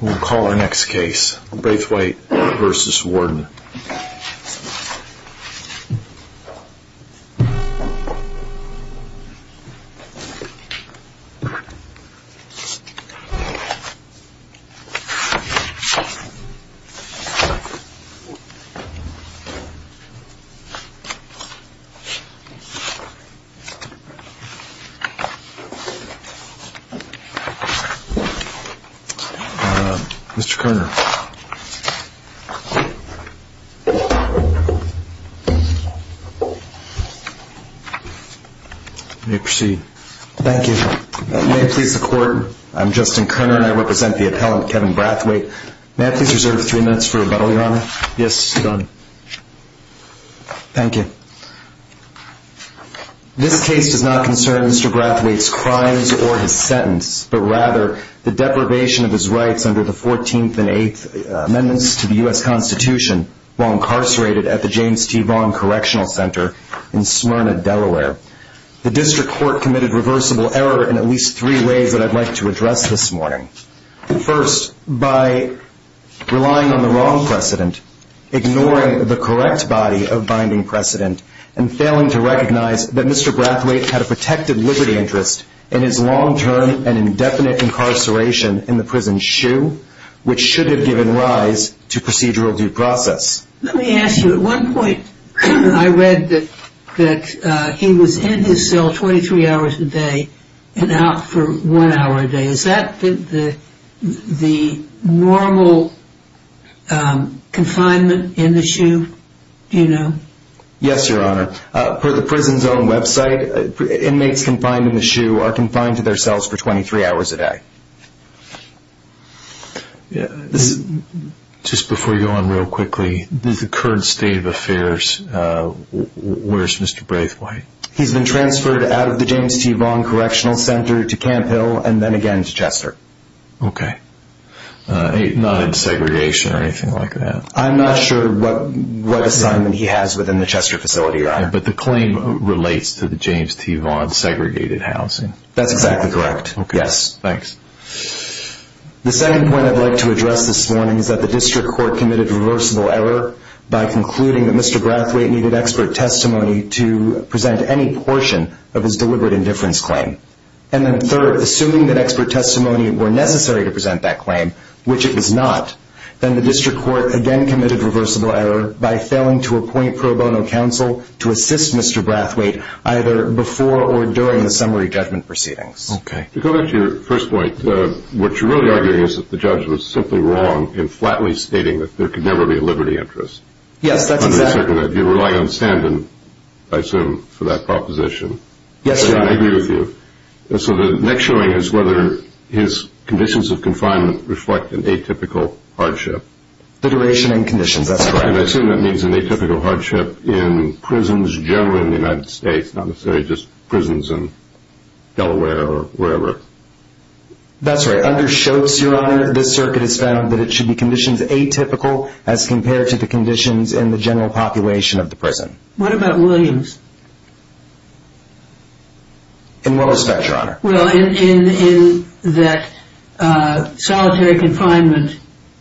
We'll call our next case, Brathwaite v. Warden. Mr. Kerner. You may proceed. Thank you. May it please the Court, I'm Justin Kerner and I represent the appellant, Kevin Brathwaite. May I please reserve three minutes for rebuttal, Your Honor? Yes, Your Honor. Thank you. This case does not concern Mr. Brathwaite's crimes or his sentence, but rather the deprivation of his rights under the 14th and 8th Amendments to the U.S. Constitution while incarcerated at the James T. Vaughan Correctional Center in Smyrna, Delaware. The District Court committed reversible error in at least three ways that I'd like to address this morning. First, by relying on the wrong precedent, ignoring the correct body of binding precedent, and failing to recognize that Mr. Brathwaite had a protected liberty interest in his long-term and indefinite incarceration in the prison shoe, which should have given rise to procedural due process. Let me ask you, at one point I read that he was in his cell 23 hours a day and out for one hour a day. Is that the normal confinement in the shoe, do you know? Yes, Your Honor. Per the prison's own website, inmates confined in the shoe are confined to their cells for 23 hours a day. Just before you go on real quickly, the current state of affairs, where's Mr. Brathwaite? He's been transferred out of the James T. Vaughan Correctional Center to Camp Hill and then again to Chester. Okay, not in segregation or anything like that? I'm not sure what assignment he has within the Chester facility, Your Honor. But the claim relates to the James T. Vaughan segregated housing? That's exactly correct, yes. Thanks. The second point I'd like to address this morning is that the District Court committed reversible error by concluding that Mr. Brathwaite needed expert testimony to present any portion of his deliberate indifference claim. And then third, assuming that expert testimony were necessary to present that claim, which it was not, then the District Court again committed reversible error by failing to appoint pro bono counsel to assist Mr. Brathwaite either before or during the summary judgment proceedings. Okay. To go back to your first point, what you're really arguing is that the judge was simply wrong in flatly stating that there could never be a liberty interest. Yes, that's exactly right. You're relying on Standen, I assume, for that proposition. Yes, Your Honor. I agree with you. So the next showing is whether his conditions of confinement reflect an atypical hardship. The duration and conditions, that's correct. And I assume that means an atypical hardship in prisons generally in the United States, not necessarily just prisons in Delaware or wherever. That's right. Under Schultz, Your Honor, this circuit has found that it should be conditions atypical as compared to the conditions in the general population of the prison. What about Williams? In what respect, Your Honor? Well, in that solitary confinement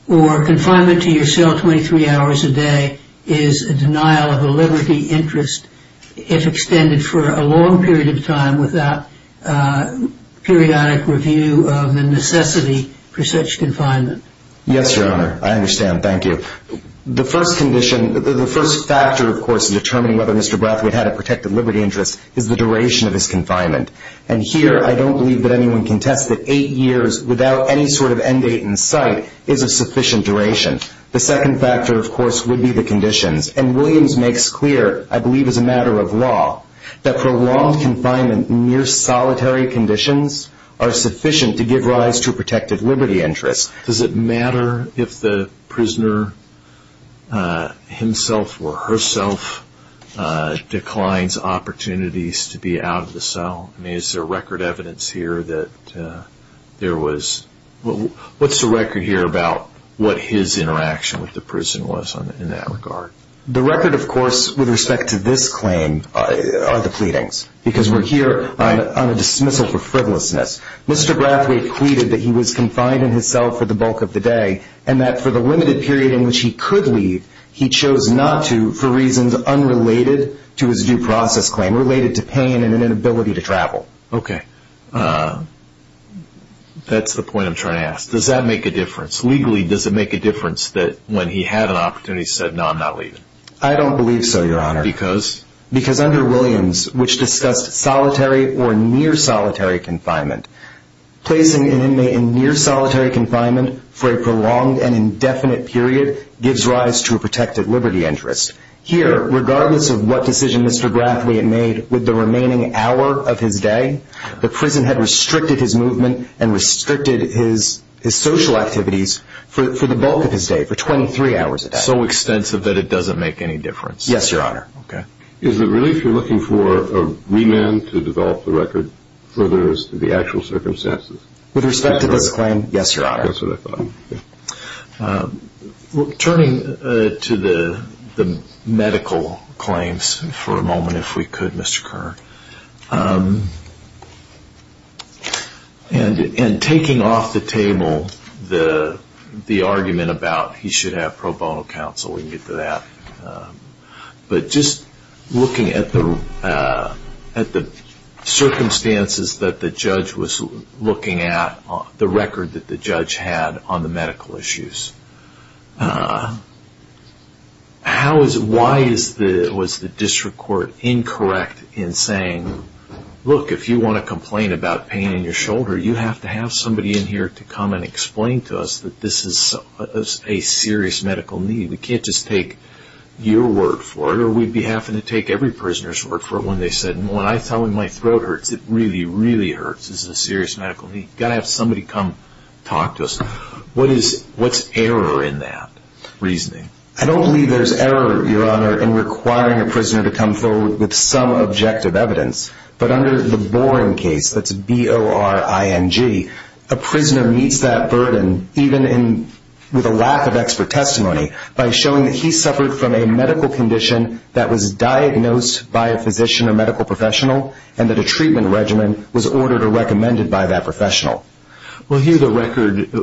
or confinement to yourself 23 hours a day is a denial of a liberty interest if extended for a long period of time without periodic review of the necessity for such confinement. Yes, Your Honor. I understand. Thank you. The first factor, of course, in determining whether Mr. Brathwaite had a protected liberty interest is the duration of his confinement. And here I don't believe that anyone can test that eight years without any sort of end date in sight is a sufficient duration. The second factor, of course, would be the conditions. And Williams makes clear, I believe as a matter of law, that prolonged confinement in mere solitary conditions are sufficient to give rise to a protected liberty interest. Does it matter if the prisoner himself or herself declines opportunities to be out of the cell? I mean, is there record evidence here that there was – what's the record here about what his interaction with the prison was in that regard? The record, of course, with respect to this claim are the pleadings because we're here on a dismissal for frivolousness. Mr. Brathwaite pleaded that he was confined in his cell for the bulk of the day and that for the limited period in which he could leave, he chose not to for reasons unrelated to his due process claim, related to pain and inability to travel. Okay. That's the point I'm trying to ask. Does that make a difference? Legally, does it make a difference that when he had an opportunity he said, no, I'm not leaving? I don't believe so, Your Honor. Because? Because under Williams, which discussed solitary or near solitary confinement, placing an inmate in near solitary confinement for a prolonged and indefinite period gives rise to a protected liberty interest. Here, regardless of what decision Mr. Brathwaite made with the remaining hour of his day, the prison had restricted his movement and restricted his social activities for the bulk of his day, for 23 hours a day. So extensive that it doesn't make any difference. Yes, Your Honor. Okay. Is it really if you're looking for a remand to develop the record With respect to this claim, yes, Your Honor. That's what I thought. Turning to the medical claims for a moment, if we could, Mr. Kern. And taking off the table the argument about he should have pro bono counsel, we can get to that. But just looking at the circumstances that the judge was looking at, the record that the judge had on the medical issues, why was the district court incorrect in saying, look, if you want to complain about pain in your shoulder, you have to have somebody in here to come and explain to us that this is a serious medical need. We can't just take your word for it, or we'd be having to take every prisoner's word for it when they said, when I tell him my throat hurts, it really, really hurts. This is a serious medical need. We've got to have somebody come talk to us. What's error in that reasoning? I don't believe there's error, Your Honor, in requiring a prisoner to come forward with some objective evidence. But under the Boring case, that's B-O-R-I-N-G, a prisoner meets that burden, even with a lack of expert testimony, by showing that he suffered from a medical condition that was diagnosed by a physician or medical professional and that a treatment regimen was ordered or recommended by that professional. Well, here's a record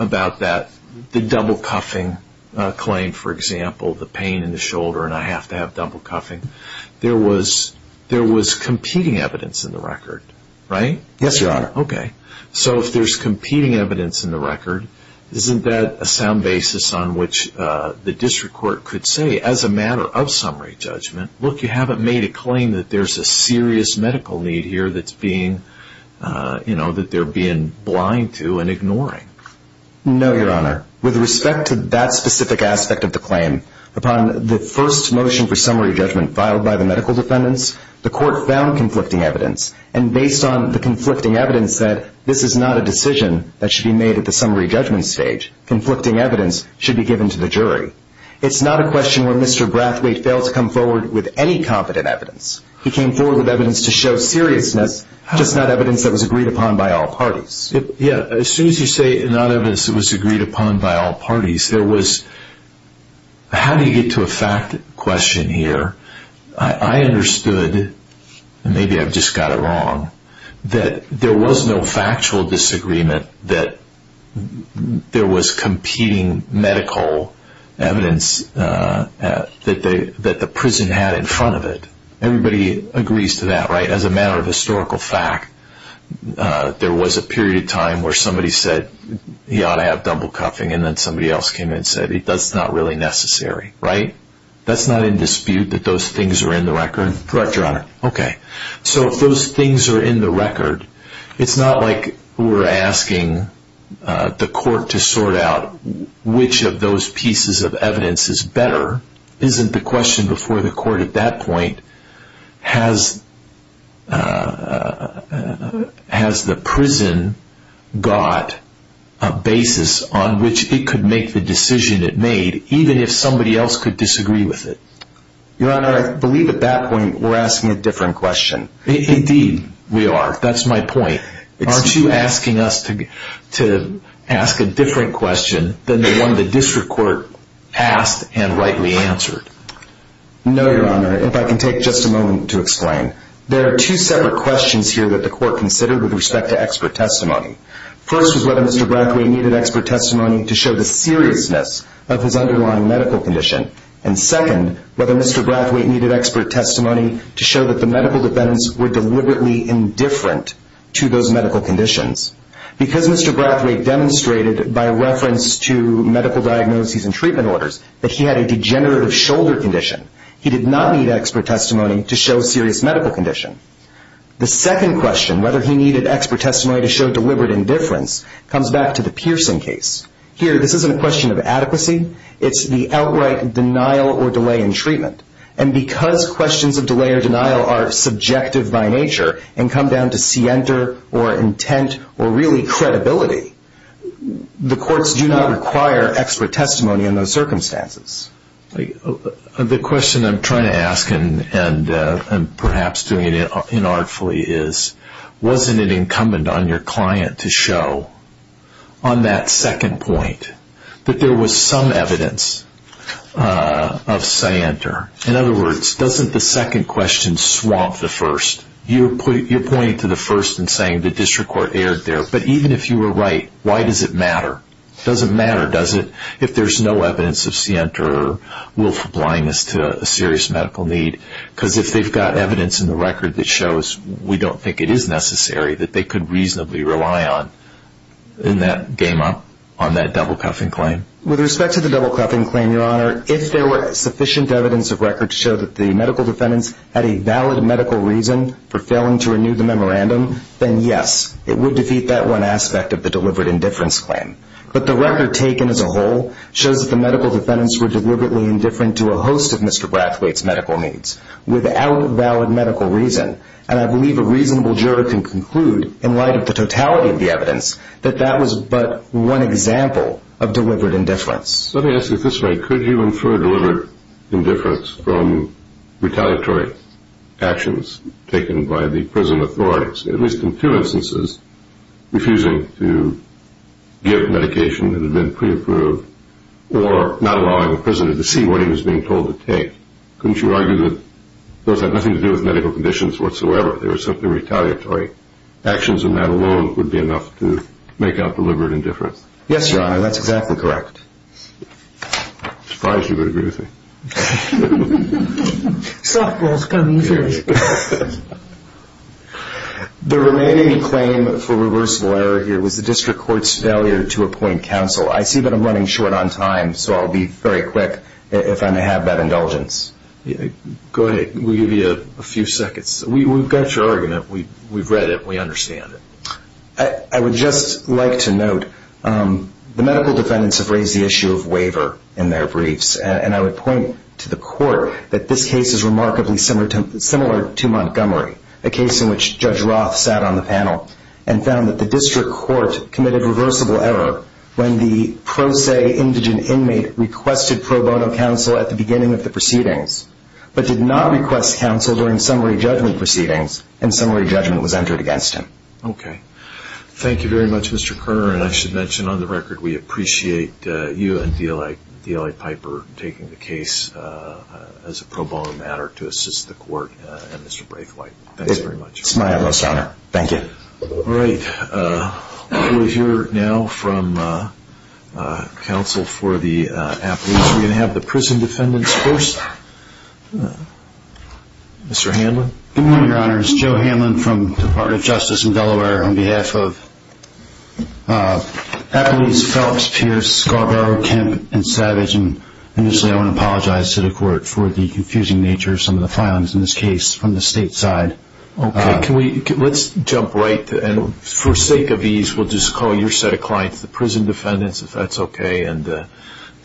about that, the double cuffing claim, for example, the pain in the shoulder and I have to have double cuffing. There was competing evidence in the record, right? Yes, Your Honor. Okay. So if there's competing evidence in the record, isn't that a sound basis on which the district court could say, as a matter of summary judgment, look, you haven't made a claim that there's a serious medical need here that they're being blind to and ignoring? No, Your Honor. With respect to that specific aspect of the claim, upon the first motion for summary judgment filed by the medical defendants, the court found conflicting evidence, and based on the conflicting evidence said, this is not a decision that should be made at the summary judgment stage. Conflicting evidence should be given to the jury. It's not a question where Mr. Brathwaite failed to come forward with any competent evidence. He came forward with evidence to show seriousness, just not evidence that was agreed upon by all parties. Yeah, as soon as you say not evidence that was agreed upon by all parties, there was how do you get to a fact question here? There was no factual disagreement that there was competing medical evidence that the prison had in front of it. Everybody agrees to that, right? As a matter of historical fact, there was a period of time where somebody said he ought to have double cuffing, and then somebody else came in and said that's not really necessary, right? That's not in dispute that those things are in the record? Correct, Your Honor. Okay. So if those things are in the record, it's not like we're asking the court to sort out which of those pieces of evidence is better. Isn't the question before the court at that point, has the prison got a basis on which it could make the decision it made, even if somebody else could disagree with it? Your Honor, I believe at that point we're asking a different question. Indeed, we are. That's my point. Aren't you asking us to ask a different question than the one the district court asked and rightly answered? No, Your Honor. If I can take just a moment to explain. There are two separate questions here that the court considered with respect to expert testimony. First was whether Mr. Brackway needed expert testimony to show the seriousness of his underlying medical condition. And second, whether Mr. Brackway needed expert testimony to show that the medical defendants were deliberately indifferent to those medical conditions. Because Mr. Brackway demonstrated by reference to medical diagnoses and treatment orders that he had a degenerative shoulder condition, he did not need expert testimony to show a serious medical condition. The second question, whether he needed expert testimony to show deliberate indifference, comes back to the piercing case. Here, this isn't a question of adequacy. It's the outright denial or delay in treatment. And because questions of delay or denial are subjective by nature and come down to scienter or intent or really credibility, the courts do not require expert testimony in those circumstances. The question I'm trying to ask, and perhaps doing it inartfully, is wasn't it incumbent on your client to show on that second point that there was some evidence of scienter? In other words, doesn't the second question swamp the first? You're pointing to the first and saying the district court erred there. But even if you were right, why does it matter? It doesn't matter, does it, if there's no evidence of scienter or willful blindness to a serious medical need? Because if they've got evidence in the record that shows we don't think it is necessary, that they could reasonably rely on in that game-up on that double-cuffing claim. With respect to the double-cuffing claim, Your Honor, if there were sufficient evidence of record to show that the medical defendants had a valid medical reason for failing to renew the memorandum, then yes, it would defeat that one aspect of the deliberate indifference claim. But the record taken as a whole shows that the medical defendants were deliberately indifferent to a host of Mr. Brathwaite's medical needs without valid medical reason. And I believe a reasonable juror can conclude, in light of the totality of the evidence, that that was but one example of deliberate indifference. Let me ask you at this point, could you infer deliberate indifference from retaliatory actions taken by the prison authorities, at least in two instances, refusing to give medication that had been pre-approved or not allowing a prisoner to see what he was being told to take? Couldn't you argue that those had nothing to do with medical conditions whatsoever? They were simply retaliatory actions, and that alone would be enough to make out deliberate indifference? Yes, Your Honor, that's exactly correct. I'm surprised you would agree with me. Softball's coming through. The remaining claim for reversible error here was the district court's failure to appoint counsel. I see that I'm running short on time, so I'll be very quick if I may have that indulgence. Go ahead. We'll give you a few seconds. We've got your argument. We've read it. We understand it. I would just like to note the medical defendants have raised the issue of waiver in their briefs, and I would point to the court that this case is remarkably similar to Montgomery, a case in which Judge Roth sat on the panel and found that the district court committed reversible error when the pro se indigent inmate requested pro bono counsel at the beginning of the proceedings but did not request counsel during summary judgment proceedings, and summary judgment was entered against him. Okay. Thank you very much, Mr. Kerner, and I should mention on the record we appreciate you and DLA Piper taking the case as a pro bono matter to assist the court and Mr. Braithwaite. Thanks very much. It's my utmost honor. Thank you. All right. We'll hear now from counsel for the appellees. We're going to have the prison defendants first. Mr. Hanlon. Good morning, Your Honors. Joe Hanlon from Department of Justice in Delaware on behalf of appellees Phelps, Pierce, Scarborough, Kemp, and Savage, and initially I want to apologize to the court for the confusing nature of some of the filings in this case from the state side. Okay. Let's jump right in. For sake of ease, we'll just call your set of clients the prison defendants, if that's okay, and the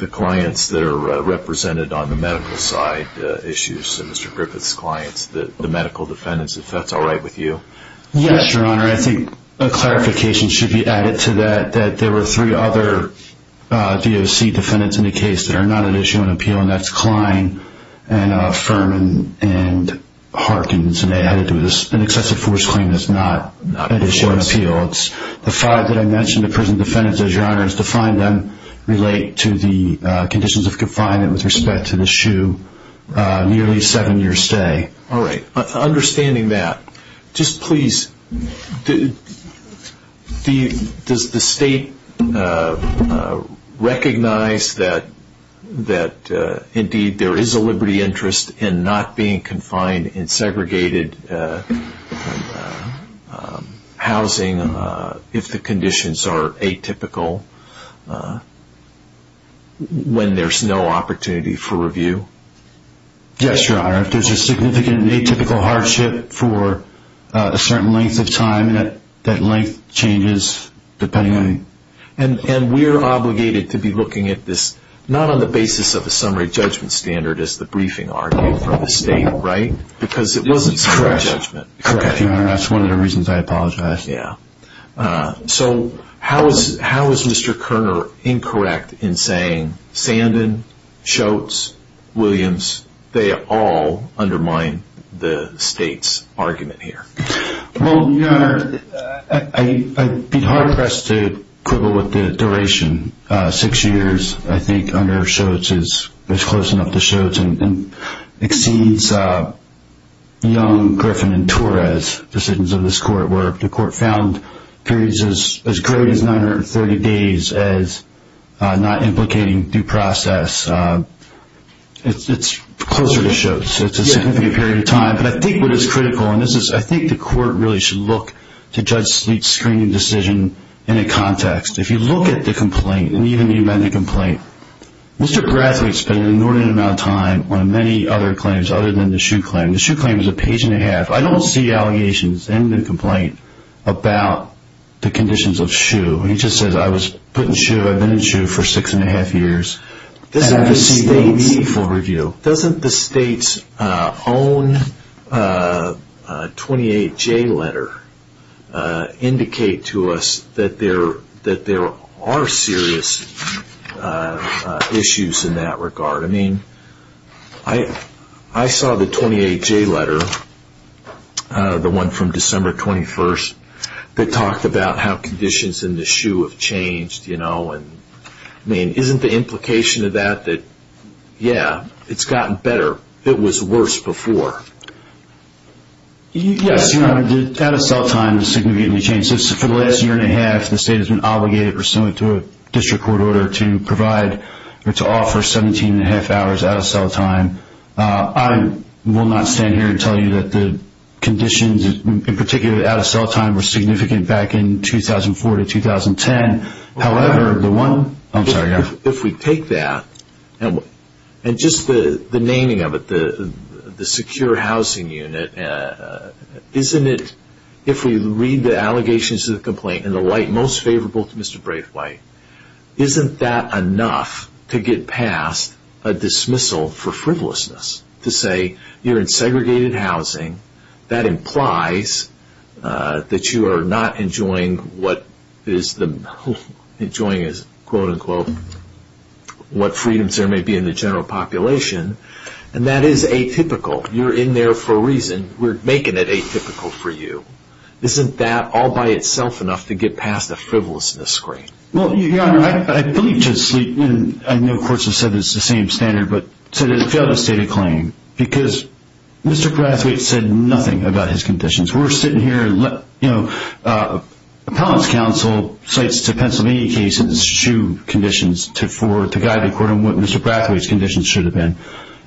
clients that are represented on the medical side issues, so Mr. Griffith's clients, the medical defendants, if that's all right with you. Yes, Your Honor. I think a clarification should be added to that, that there were three other DOC defendants in the case that are not at issue on appeal, and that's Kline and Furman and Harkins, and they had to do an excessive force claim that's not at issue on appeal. The five that I mentioned, the prison defendants, as Your Honor, as defined then relate to the conditions of confinement with respect to the shoe, nearly seven years' stay. All right. Understanding that, just please, does the state recognize that indeed there is a liberty interest in not being confined in segregated housing if the conditions are atypical, when there's no opportunity for review? Yes, Your Honor. If there's a significant atypical hardship for a certain length of time, that length changes depending on... And we're obligated to be looking at this not on the basis of a summary judgment standard, as the briefing argued from the state, right? Because it wasn't a summary judgment. Correct, Your Honor. That's one of the reasons I apologize. Yeah. So how is Mr. Kerner incorrect in saying Sandin, Schultz, Williams, they all undermine the state's argument here? Well, Your Honor, I'd be hard-pressed to quibble with the duration. Six years, I think, under Schultz is close enough to Schultz and exceeds Young, Griffin, and Torres' decisions of this court, where the court found periods as great as 930 days as not implicating due process. It's closer to Schultz. It's a significant period of time. But I think what is critical, and I think the court really should look to Judge Sleet's screening decision in a context. If you look at the complaint, and even the amended complaint, Mr. Brathwaite spent an inordinate amount of time on many other claims other than the Shue claim. The Shue claim is a page and a half. I don't see allegations in the complaint about the conditions of Shue. He just says, I was put in Shue, I've been in Shue for six and a half years, and I've received no meaningful review. Doesn't the state's own 28J letter indicate to us that there are serious issues in that regard? I saw the 28J letter, the one from December 21st, that talked about how conditions in the Shue have changed. I mean, isn't the implication of that that, yeah, it's gotten better. It was worse before. Yes, your honor. The out-of-cell time is significantly changed. For the last year and a half, the state has been obligated pursuant to a district court order to provide or to offer 17 and a half hours out-of-cell time. I will not stand here and tell you that the conditions, in particular out-of-cell time, were significant back in 2004 to 2010. However, if we take that, and just the naming of it, the secure housing unit, isn't it, if we read the allegations in the complaint in the light most favorable to Mr. Braithwaite, isn't that enough to get past a dismissal for frivolousness? To say, you're in segregated housing. That implies that you are not enjoying what freedoms there may be in the general population. And that is atypical. You're in there for a reason. We're making it atypical for you. Isn't that all by itself enough to get past the frivolousness screen? Well, your honor, I believe justly, and I know courts have said it's the same standard, but it has failed to state a claim. Because Mr. Braithwaite said nothing about his conditions. We're sitting here, you know, appellate's counsel cites the Pennsylvania case as true conditions to guide the court on what Mr. Braithwaite's conditions should have been.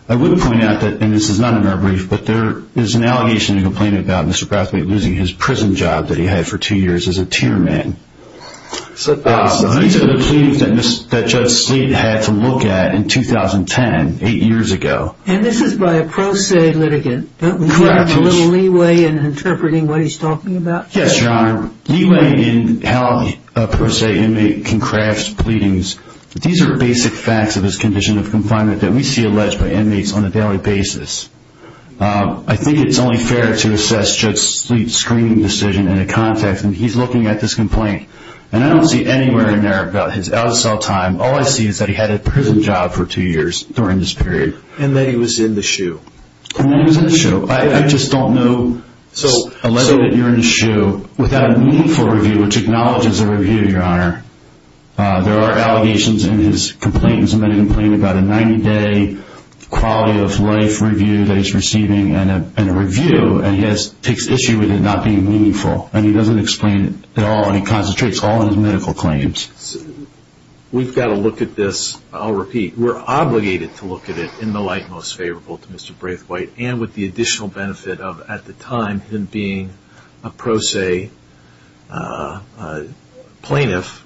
I would point out that, and this is not in our brief, but there is an allegation in the complaint about Mr. Braithwaite losing his prison job that he had for two years as a tier man. These are the pleadings that Judge Slade had to look at in 2010, eight years ago. And this is by a pro se litigant. Correct. A little leeway in interpreting what he's talking about. Yes, your honor. Leeway in how a pro se inmate can craft pleadings. These are basic facts of his condition of confinement that we see alleged by inmates on a daily basis. I think it's only fair to assess Judge Slade's screening decision in a context, and he's looking at this complaint. And I don't see anywhere in there about his out-of-cell time. All I see is that he had a prison job for two years during this period. And that he was in the shoe. He was in the shoe. I just don't know. So. So that you're in the shoe without a meaningful review, which acknowledges a review, your honor. There are allegations in his complaint, in his medical complaint, about a 90-day quality of life review that he's receiving, and a review, and he takes issue with it not being meaningful. And he doesn't explain it at all, and he concentrates all of his medical claims. We've got to look at this. I'll repeat. We're obligated to look at it in the light most favorable to Mr. Braithwaite, and with the additional benefit of, at the time, him being a pro se plaintiff,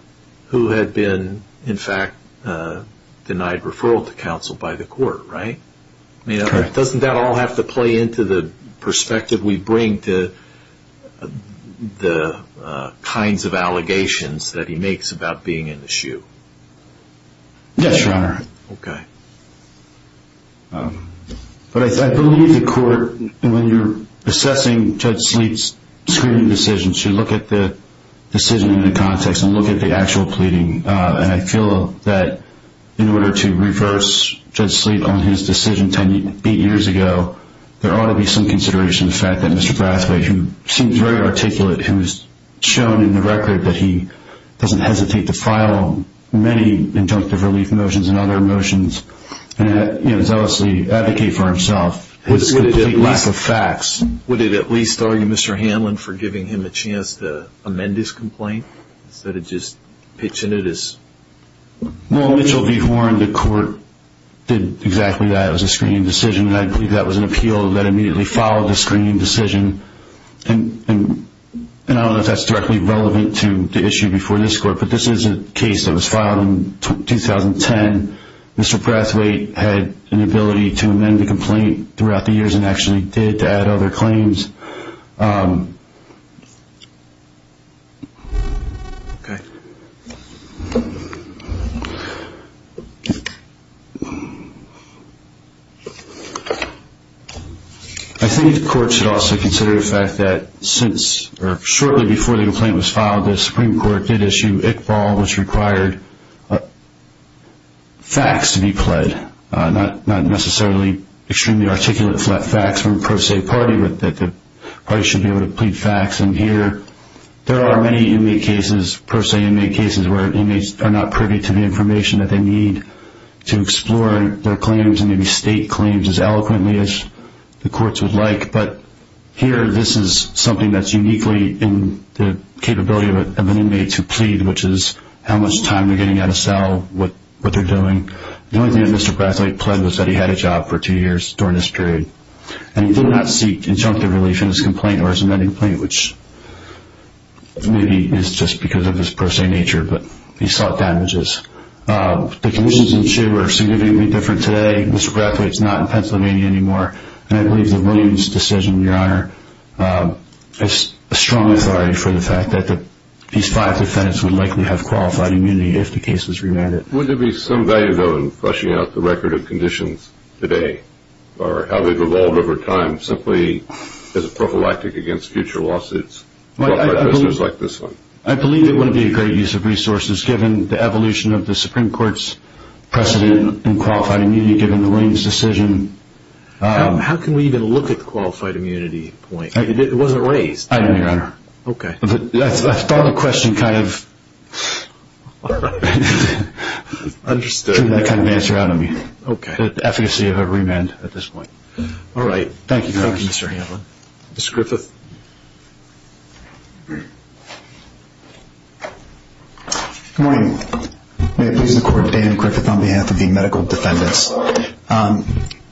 who had been, in fact, denied referral to counsel by the court, right? Doesn't that all have to play into the perspective we bring to the kinds of allegations that he makes about being in the shoe? Yes, your honor. Okay. But I believe the court, when you're assessing Judge Sleet's screening decision, should look at the decision in the context and look at the actual pleading. And I feel that in order to reverse Judge Sleet on his decision ten years ago, there ought to be some consideration to the fact that Mr. Braithwaite, who seems very articulate, who has shown in the record that he doesn't hesitate to file many injunctive relief motions and other motions and zealously advocate for himself, his complete lack of facts. Would it at least argue Mr. Hanlon for giving him a chance to amend his complaint instead of just pitching it as? Well, Mitchell v. Horne, the court did exactly that. It was a screening decision, and I believe that was an appeal that immediately followed the screening decision. And I don't know if that's directly relevant to the issue before this court, but this is a case that was filed in 2010. Mr. Braithwaite had an ability to amend the complaint throughout the years and actually did add other claims. Okay. I think the court should also consider the fact that shortly before the complaint was filed, the Supreme Court did issue Iqbal, which required facts to be pled, not necessarily extremely articulate facts from a pro se party that the party should be able to plead facts. And here there are many inmate cases, pro se inmate cases, where inmates are not privy to the information that they need to explore their claims and maybe state claims as eloquently as the courts would like. But here this is something that's uniquely in the capability of an inmate to plead, which is how much time they're getting out of cell, what they're doing. The only thing that Mr. Braithwaite pled was that he had a job for two years during this period. And he did not seek injunctive relief in his complaint or his amending complaint, which maybe is just because of his pro se nature, but he sought damages. The conditions in jail are significantly different today. Mr. Braithwaite is not in Pennsylvania anymore, and I believe the Williams decision, Your Honor, is a strong authority for the fact that these five defendants would likely have qualified immunity if the case was remanded. Wouldn't there be some value, though, in fleshing out the record of conditions today or how they've evolved over time simply as a prophylactic against future lawsuits brought by prisoners like this one? I believe it would be a great use of resources given the evolution of the Supreme Court's precedent in qualified immunity given the Williams decision. How can we even look at the qualified immunity point? It wasn't raised. I didn't, Your Honor. Okay. I thought the question kind of... All right. Understood. ...took that kind of answer out of me. Okay. The efficacy of a remand at this point. All right. Thank you, Your Honor. Thank you, Mr. Hanlon. Mr. Griffith. Good morning. May it please the Court, Dan Griffith on behalf of the medical defendants.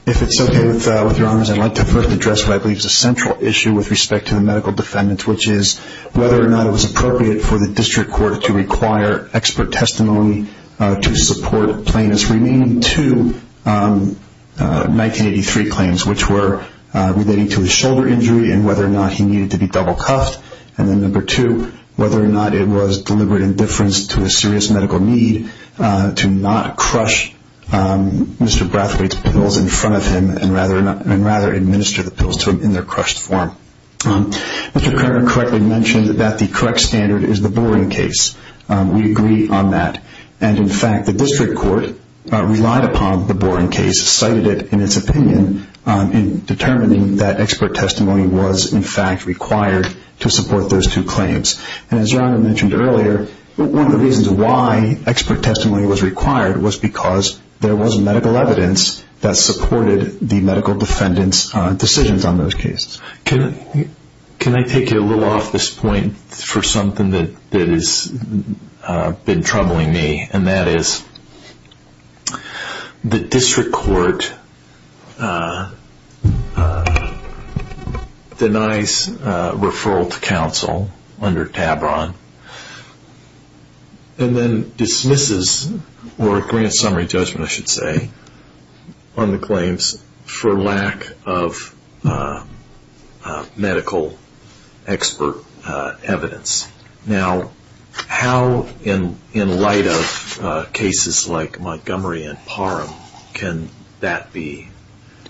If it's okay with Your Honors, I'd like to first address what I believe is a central issue with respect to the medical defendants, which is whether or not it was appropriate for the district court to require expert testimony to support plaintiffs' remaining two 1983 claims, which were relating to a shoulder injury and whether or not he needed to be double cuffed, and then number two, whether or not it was deliberate indifference to a serious medical need to not crush Mr. Brathwaite's pills in front of him and rather administer the pills to him in their crushed form. Mr. Kramer correctly mentioned that the correct standard is the Boren case. We agree on that. And, in fact, the district court relied upon the Boren case, cited it in its opinion in determining that expert testimony was, in fact, required to support those two claims. And as Your Honor mentioned earlier, one of the reasons why expert testimony was required was because there was medical evidence that supported the medical defendants' decisions on those cases. Can I take you a little off this point for something that has been troubling me, and that is the district court denies referral to counsel under TABRON and then dismisses or grants summary judgment, I should say, on the claims for lack of medical expert evidence. Now, how in light of cases like Montgomery and Parham can that be?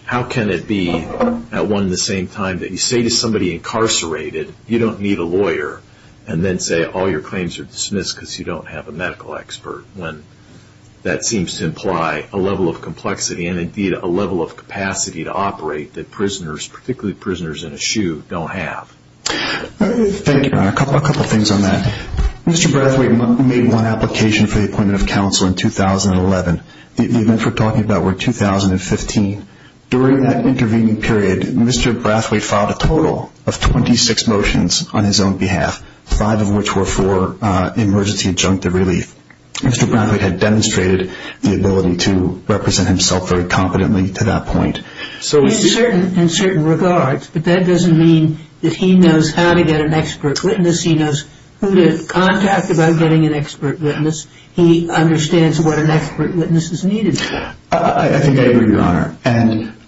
How can it be at one and the same time that you say to somebody incarcerated, you don't need a lawyer, and then say all your claims are dismissed because you don't have a medical expert when that seems to imply a level of complexity and, indeed, a level of capacity to operate that prisoners, particularly prisoners in a SHU, don't have? Thank you, Your Honor. A couple of things on that. Mr. Brathwaite made one application for the appointment of counsel in 2011. The events we're talking about were 2015. During that intervening period, Mr. Brathwaite filed a total of 26 motions on his own behalf, five of which were for emergency adjunctive relief. Mr. Brathwaite had demonstrated the ability to represent himself very competently to that point. In certain regards, but that doesn't mean that he knows how to get an expert witness. He knows who to contact about getting an expert witness. He understands what an expert witness is needed for. I think I agree, Your Honor.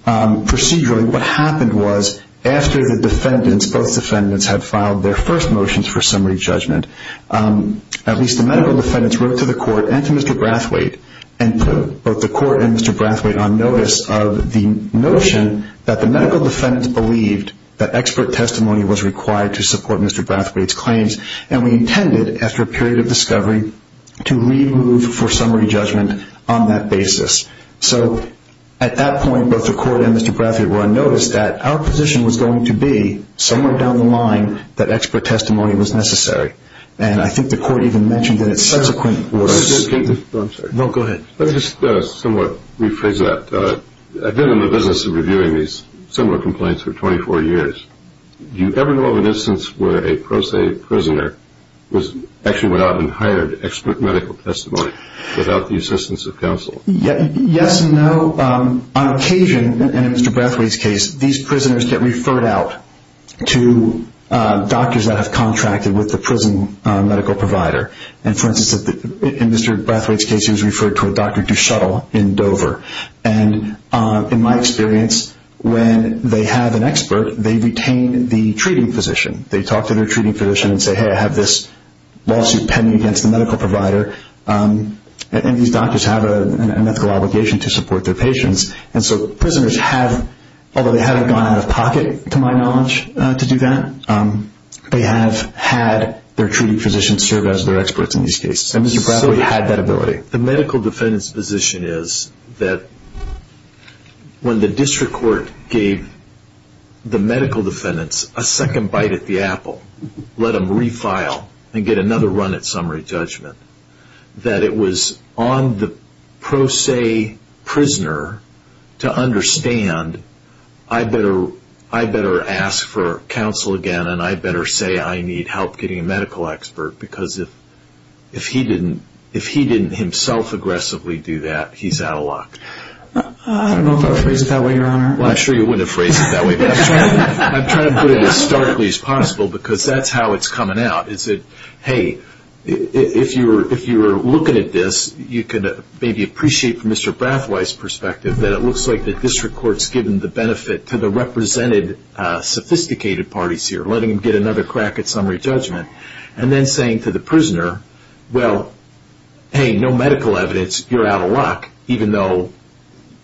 Procedurally, what happened was after the defendants, both defendants, had filed their first motions for summary judgment, at least the medical defendants wrote to the court and to Mr. Brathwaite and put both the court and Mr. Brathwaite on notice of the notion that the medical defendants believed And we intended, after a period of discovery, to remove for summary judgment on that basis. So at that point, both the court and Mr. Brathwaite were on notice that our position was going to be somewhere down the line that expert testimony was necessary. And I think the court even mentioned in its subsequent orders No, go ahead. Let me just somewhat rephrase that. I've been in the business of reviewing these similar complaints for 24 years. Do you ever know of an instance where a pro se prisoner was actually went out and hired expert medical testimony without the assistance of counsel? Yes and no. On occasion, in Mr. Brathwaite's case, these prisoners get referred out to doctors that have contracted with the prison medical provider. And, for instance, in Mr. Brathwaite's case, he was referred to a Dr. Dushutle in Dover. And, in my experience, when they have an expert, they retain the treating physician. They talk to their treating physician and say, Hey, I have this lawsuit pending against the medical provider. And these doctors have an ethical obligation to support their patients. And so prisoners have, although they haven't gone out of pocket, to my knowledge, to do that, they have had their treating physician serve as their experts in these cases. And Mr. Brathwaite had that ability. The medical defendant's position is that when the district court gave the medical defendants a second bite at the apple, let them refile and get another run at summary judgment, that it was on the pro se prisoner to understand I better ask for counsel again and I better say I need help getting a medical expert because if he didn't himself aggressively do that, he's out of luck. I don't know how to phrase it that way, Your Honor. Well, I'm sure you wouldn't have phrased it that way. But I'm trying to put it as starkly as possible because that's how it's coming out. It's that, hey, if you're looking at this, you can maybe appreciate from Mr. Brathwaite's perspective that it looks like the district court's given the benefit to the represented sophisticated parties here, letting them get another crack at summary judgment, and then saying to the prisoner, well, hey, no medical evidence, you're out of luck, even though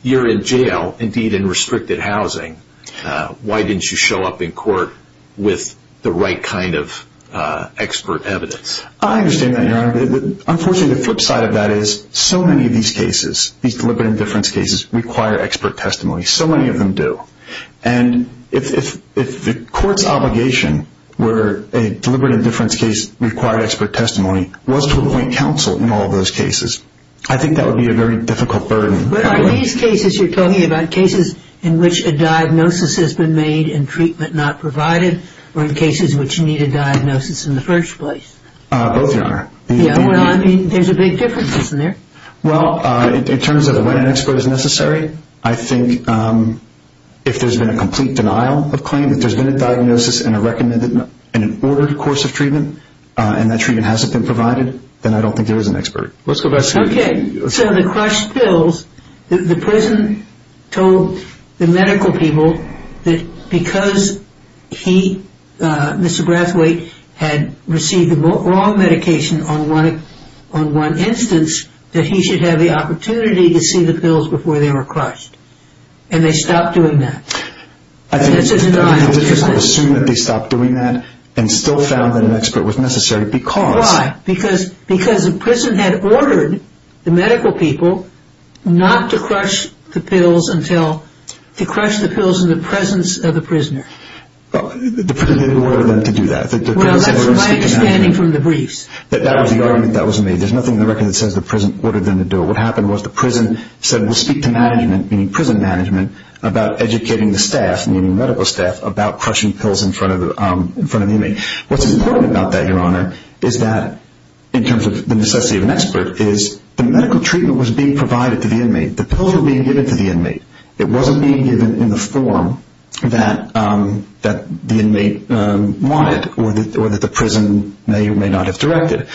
you're in jail, indeed in restricted housing. Why didn't you show up in court with the right kind of expert evidence? I understand that, Your Honor. Unfortunately, the flip side of that is so many of these cases, these deliberate indifference cases, require expert testimony. So many of them do. And if the court's obligation were a deliberate indifference case required expert testimony, was to appoint counsel in all those cases, I think that would be a very difficult burden. But are these cases you're talking about cases in which a diagnosis has been made and treatment not provided, or in cases which need a diagnosis in the first place? Both, Your Honor. Well, I mean, there's a big difference, isn't there? Well, in terms of when an expert is necessary, I think if there's been a complete denial of claim, if there's been a diagnosis and an ordered course of treatment, and that treatment hasn't been provided, then I don't think there is an expert. Okay. So the crushed pills, the prison told the medical people that because he, Mr. Brathwaite, had received the wrong medication on one instance, that he should have the opportunity to see the pills before they were crushed. And they stopped doing that. I think it's difficult to assume that they stopped doing that and still found that an expert was necessary because... Why? Because the prison had ordered the medical people not to crush the pills until... to crush the pills in the presence of the prisoner. The prison didn't order them to do that. Well, that's my understanding from the briefs. That was the argument that was made. There's nothing in the record that says the prison ordered them to do it. What happened was the prison said, we'll speak to management, meaning prison management, about educating the staff, meaning medical staff, about crushing pills in front of the inmate. What's important about that, Your Honor, is that in terms of the necessity of an expert, is the medical treatment was being provided to the inmate. The pills were being given to the inmate. It wasn't being given in the form that the inmate wanted or that the prison may or may not have directed.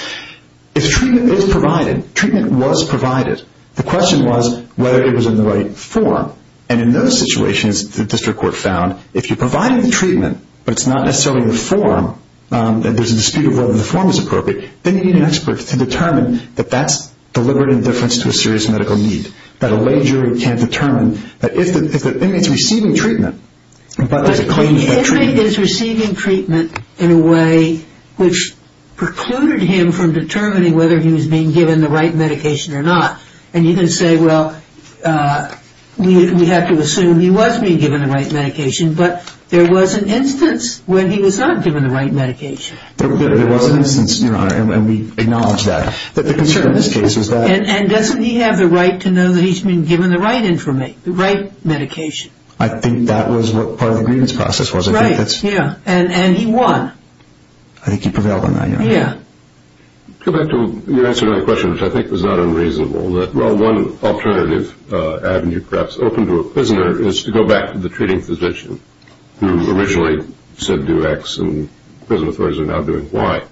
If treatment is provided, treatment was provided, the question was whether it was in the right form. And in those situations, the district court found, if you're providing the treatment but it's not necessarily in the form, there's a dispute over whether the form is appropriate, then you need an expert to determine that that's deliberate indifference to a serious medical need, that a lay jury can't determine that if the inmate is receiving treatment. But the inmate is receiving treatment in a way which precluded him from determining whether he was being given the right medication or not. And you can say, well, we have to assume he was being given the right medication, but there was an instance when he was not given the right medication. There was an instance, Your Honor, and we acknowledge that. But the concern in this case was that... And doesn't he have the right to know that he's been given the right information, the right medication? I think that was what part of the grievance process was. Right, yeah, and he won. I think he prevailed on that, Your Honor. Yeah. To go back to your answer to my question, which I think was not unreasonable, that while one alternative avenue perhaps open to a prisoner is to go back to the treating physician who originally said do X and prison authorities are now doing Y,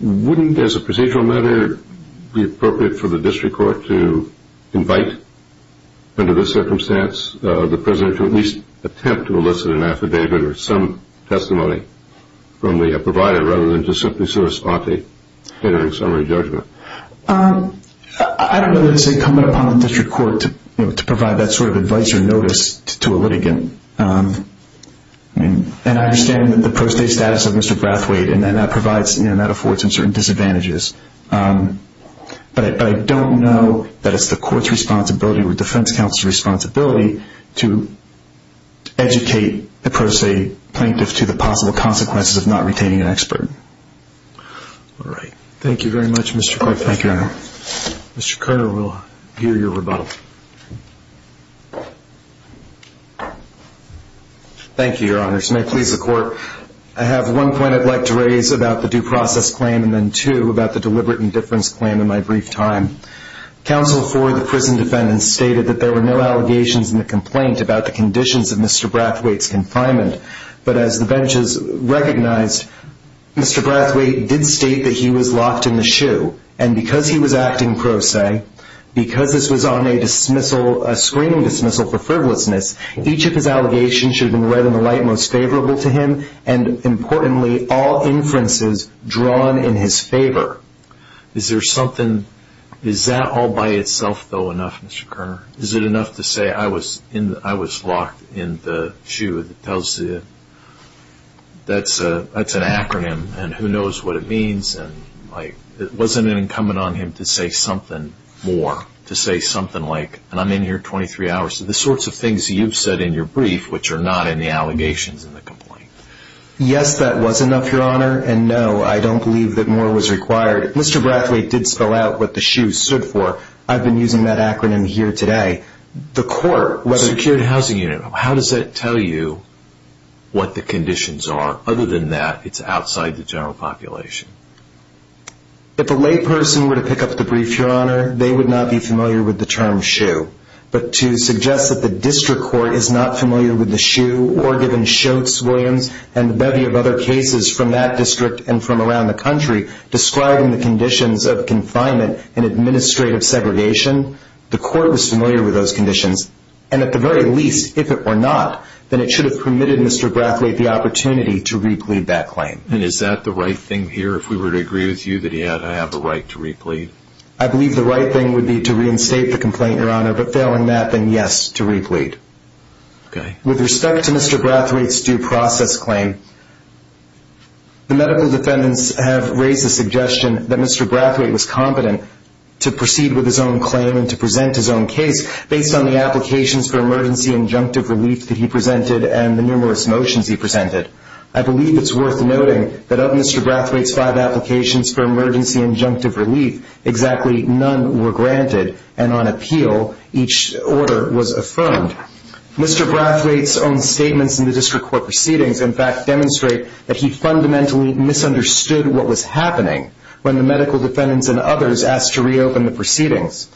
wouldn't, as a procedural matter, it be appropriate for the district court to invite, under this circumstance, the prisoner to at least attempt to elicit an affidavit or some testimony from the provider rather than just simply sue a spotty catering summary judgment? I don't know that it's incumbent upon the district court to provide that sort of advice or notice to a litigant. And I understand the pro se status of Mr. Brathwaite and that affords him certain disadvantages. But I don't know that it's the court's responsibility or defense counsel's responsibility to educate the pro se plaintiff to the possible consequences of not retaining an expert. All right. Thank you very much, Mr. Carter. Thank you, Your Honor. Mr. Carter, we'll hear your rebuttal. Thank you, Your Honor. This may please the court. I have one point I'd like to raise about the due process claim and then two about the deliberate indifference claim in my brief time. Counsel for the prison defendant stated that there were no allegations in the complaint about the conditions of Mr. Brathwaite's confinement. But as the benches recognized, Mr. Brathwaite did state that he was locked in the shoe. And because he was acting pro se, because this was on a screening dismissal for frivolousness, each of his allegations should have been read in the light most favorable to him and, importantly, all inferences drawn in his favor. Is there something? Is that all by itself, though, enough, Mr. Kerner? Is it enough to say I was locked in the shoe? That tells you that's an acronym and who knows what it means. And, like, wasn't it incumbent on him to say something more, to say something like, and I'm in here 23 hours, the sorts of things that you've said in your brief which are not in the allegations in the complaint? Yes, that was enough, Your Honor. And, no, I don't believe that more was required. Mr. Brathwaite did spell out what the shoe stood for. I've been using that acronym here today. The court, whether it's... Secured housing unit. How does that tell you what the conditions are? Other than that, it's outside the general population. If a lay person were to pick up the brief, Your Honor, they would not be familiar with the term shoe. But to suggest that the district court is not familiar with the shoe, or given Schultz, Williams, and a bevy of other cases from that district and from around the country, describing the conditions of confinement and administrative segregation, the court was familiar with those conditions. And, at the very least, if it were not, then it should have permitted Mr. Brathwaite the opportunity to re-plead that claim. And is that the right thing here, if we were to agree with you, that he had to have the right to re-plead? I believe the right thing would be to reinstate the complaint, Your Honor, but failing that, then yes, to re-plead. Okay. With respect to Mr. Brathwaite's due process claim, the medical defendants have raised the suggestion that Mr. Brathwaite was competent to proceed with his own claim and to present his own case based on the applications for emergency injunctive relief that he presented and the numerous motions he presented. I believe it's worth noting that of Mr. Brathwaite's five applications for emergency injunctive relief, exactly none were granted, and on appeal each order was affirmed. Mr. Brathwaite's own statements in the district court proceedings, in fact, demonstrate that he fundamentally misunderstood what was happening when the medical defendants and others asked to reopen the proceedings.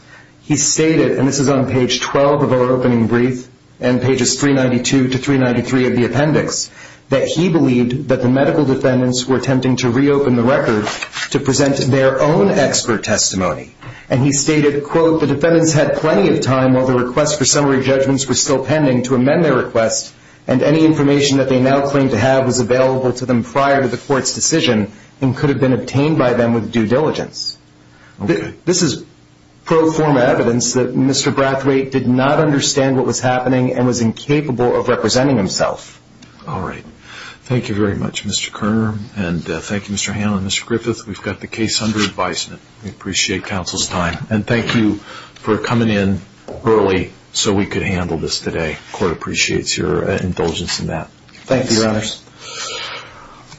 He stated, and this is on page 12 of our opening brief and pages 392 to 393 of the appendix, that he believed that the medical defendants were attempting to reopen the record to present their own expert testimony. And he stated, quote, the defendants had plenty of time while the request for summary judgments was still pending to amend their request and any information that they now claim to have was available to them prior to the court's decision and could have been obtained by them with due diligence. This is pro forma evidence that Mr. Brathwaite did not understand what was happening and was incapable of representing himself. All right. Thank you very much, Mr. Kerner. And thank you, Mr. Hanlon and Mr. Griffith. We've got the case under advisement. We appreciate counsel's time. And thank you for coming in early so we could handle this today. Court appreciates your indulgence in that. Thank you, Your Honors.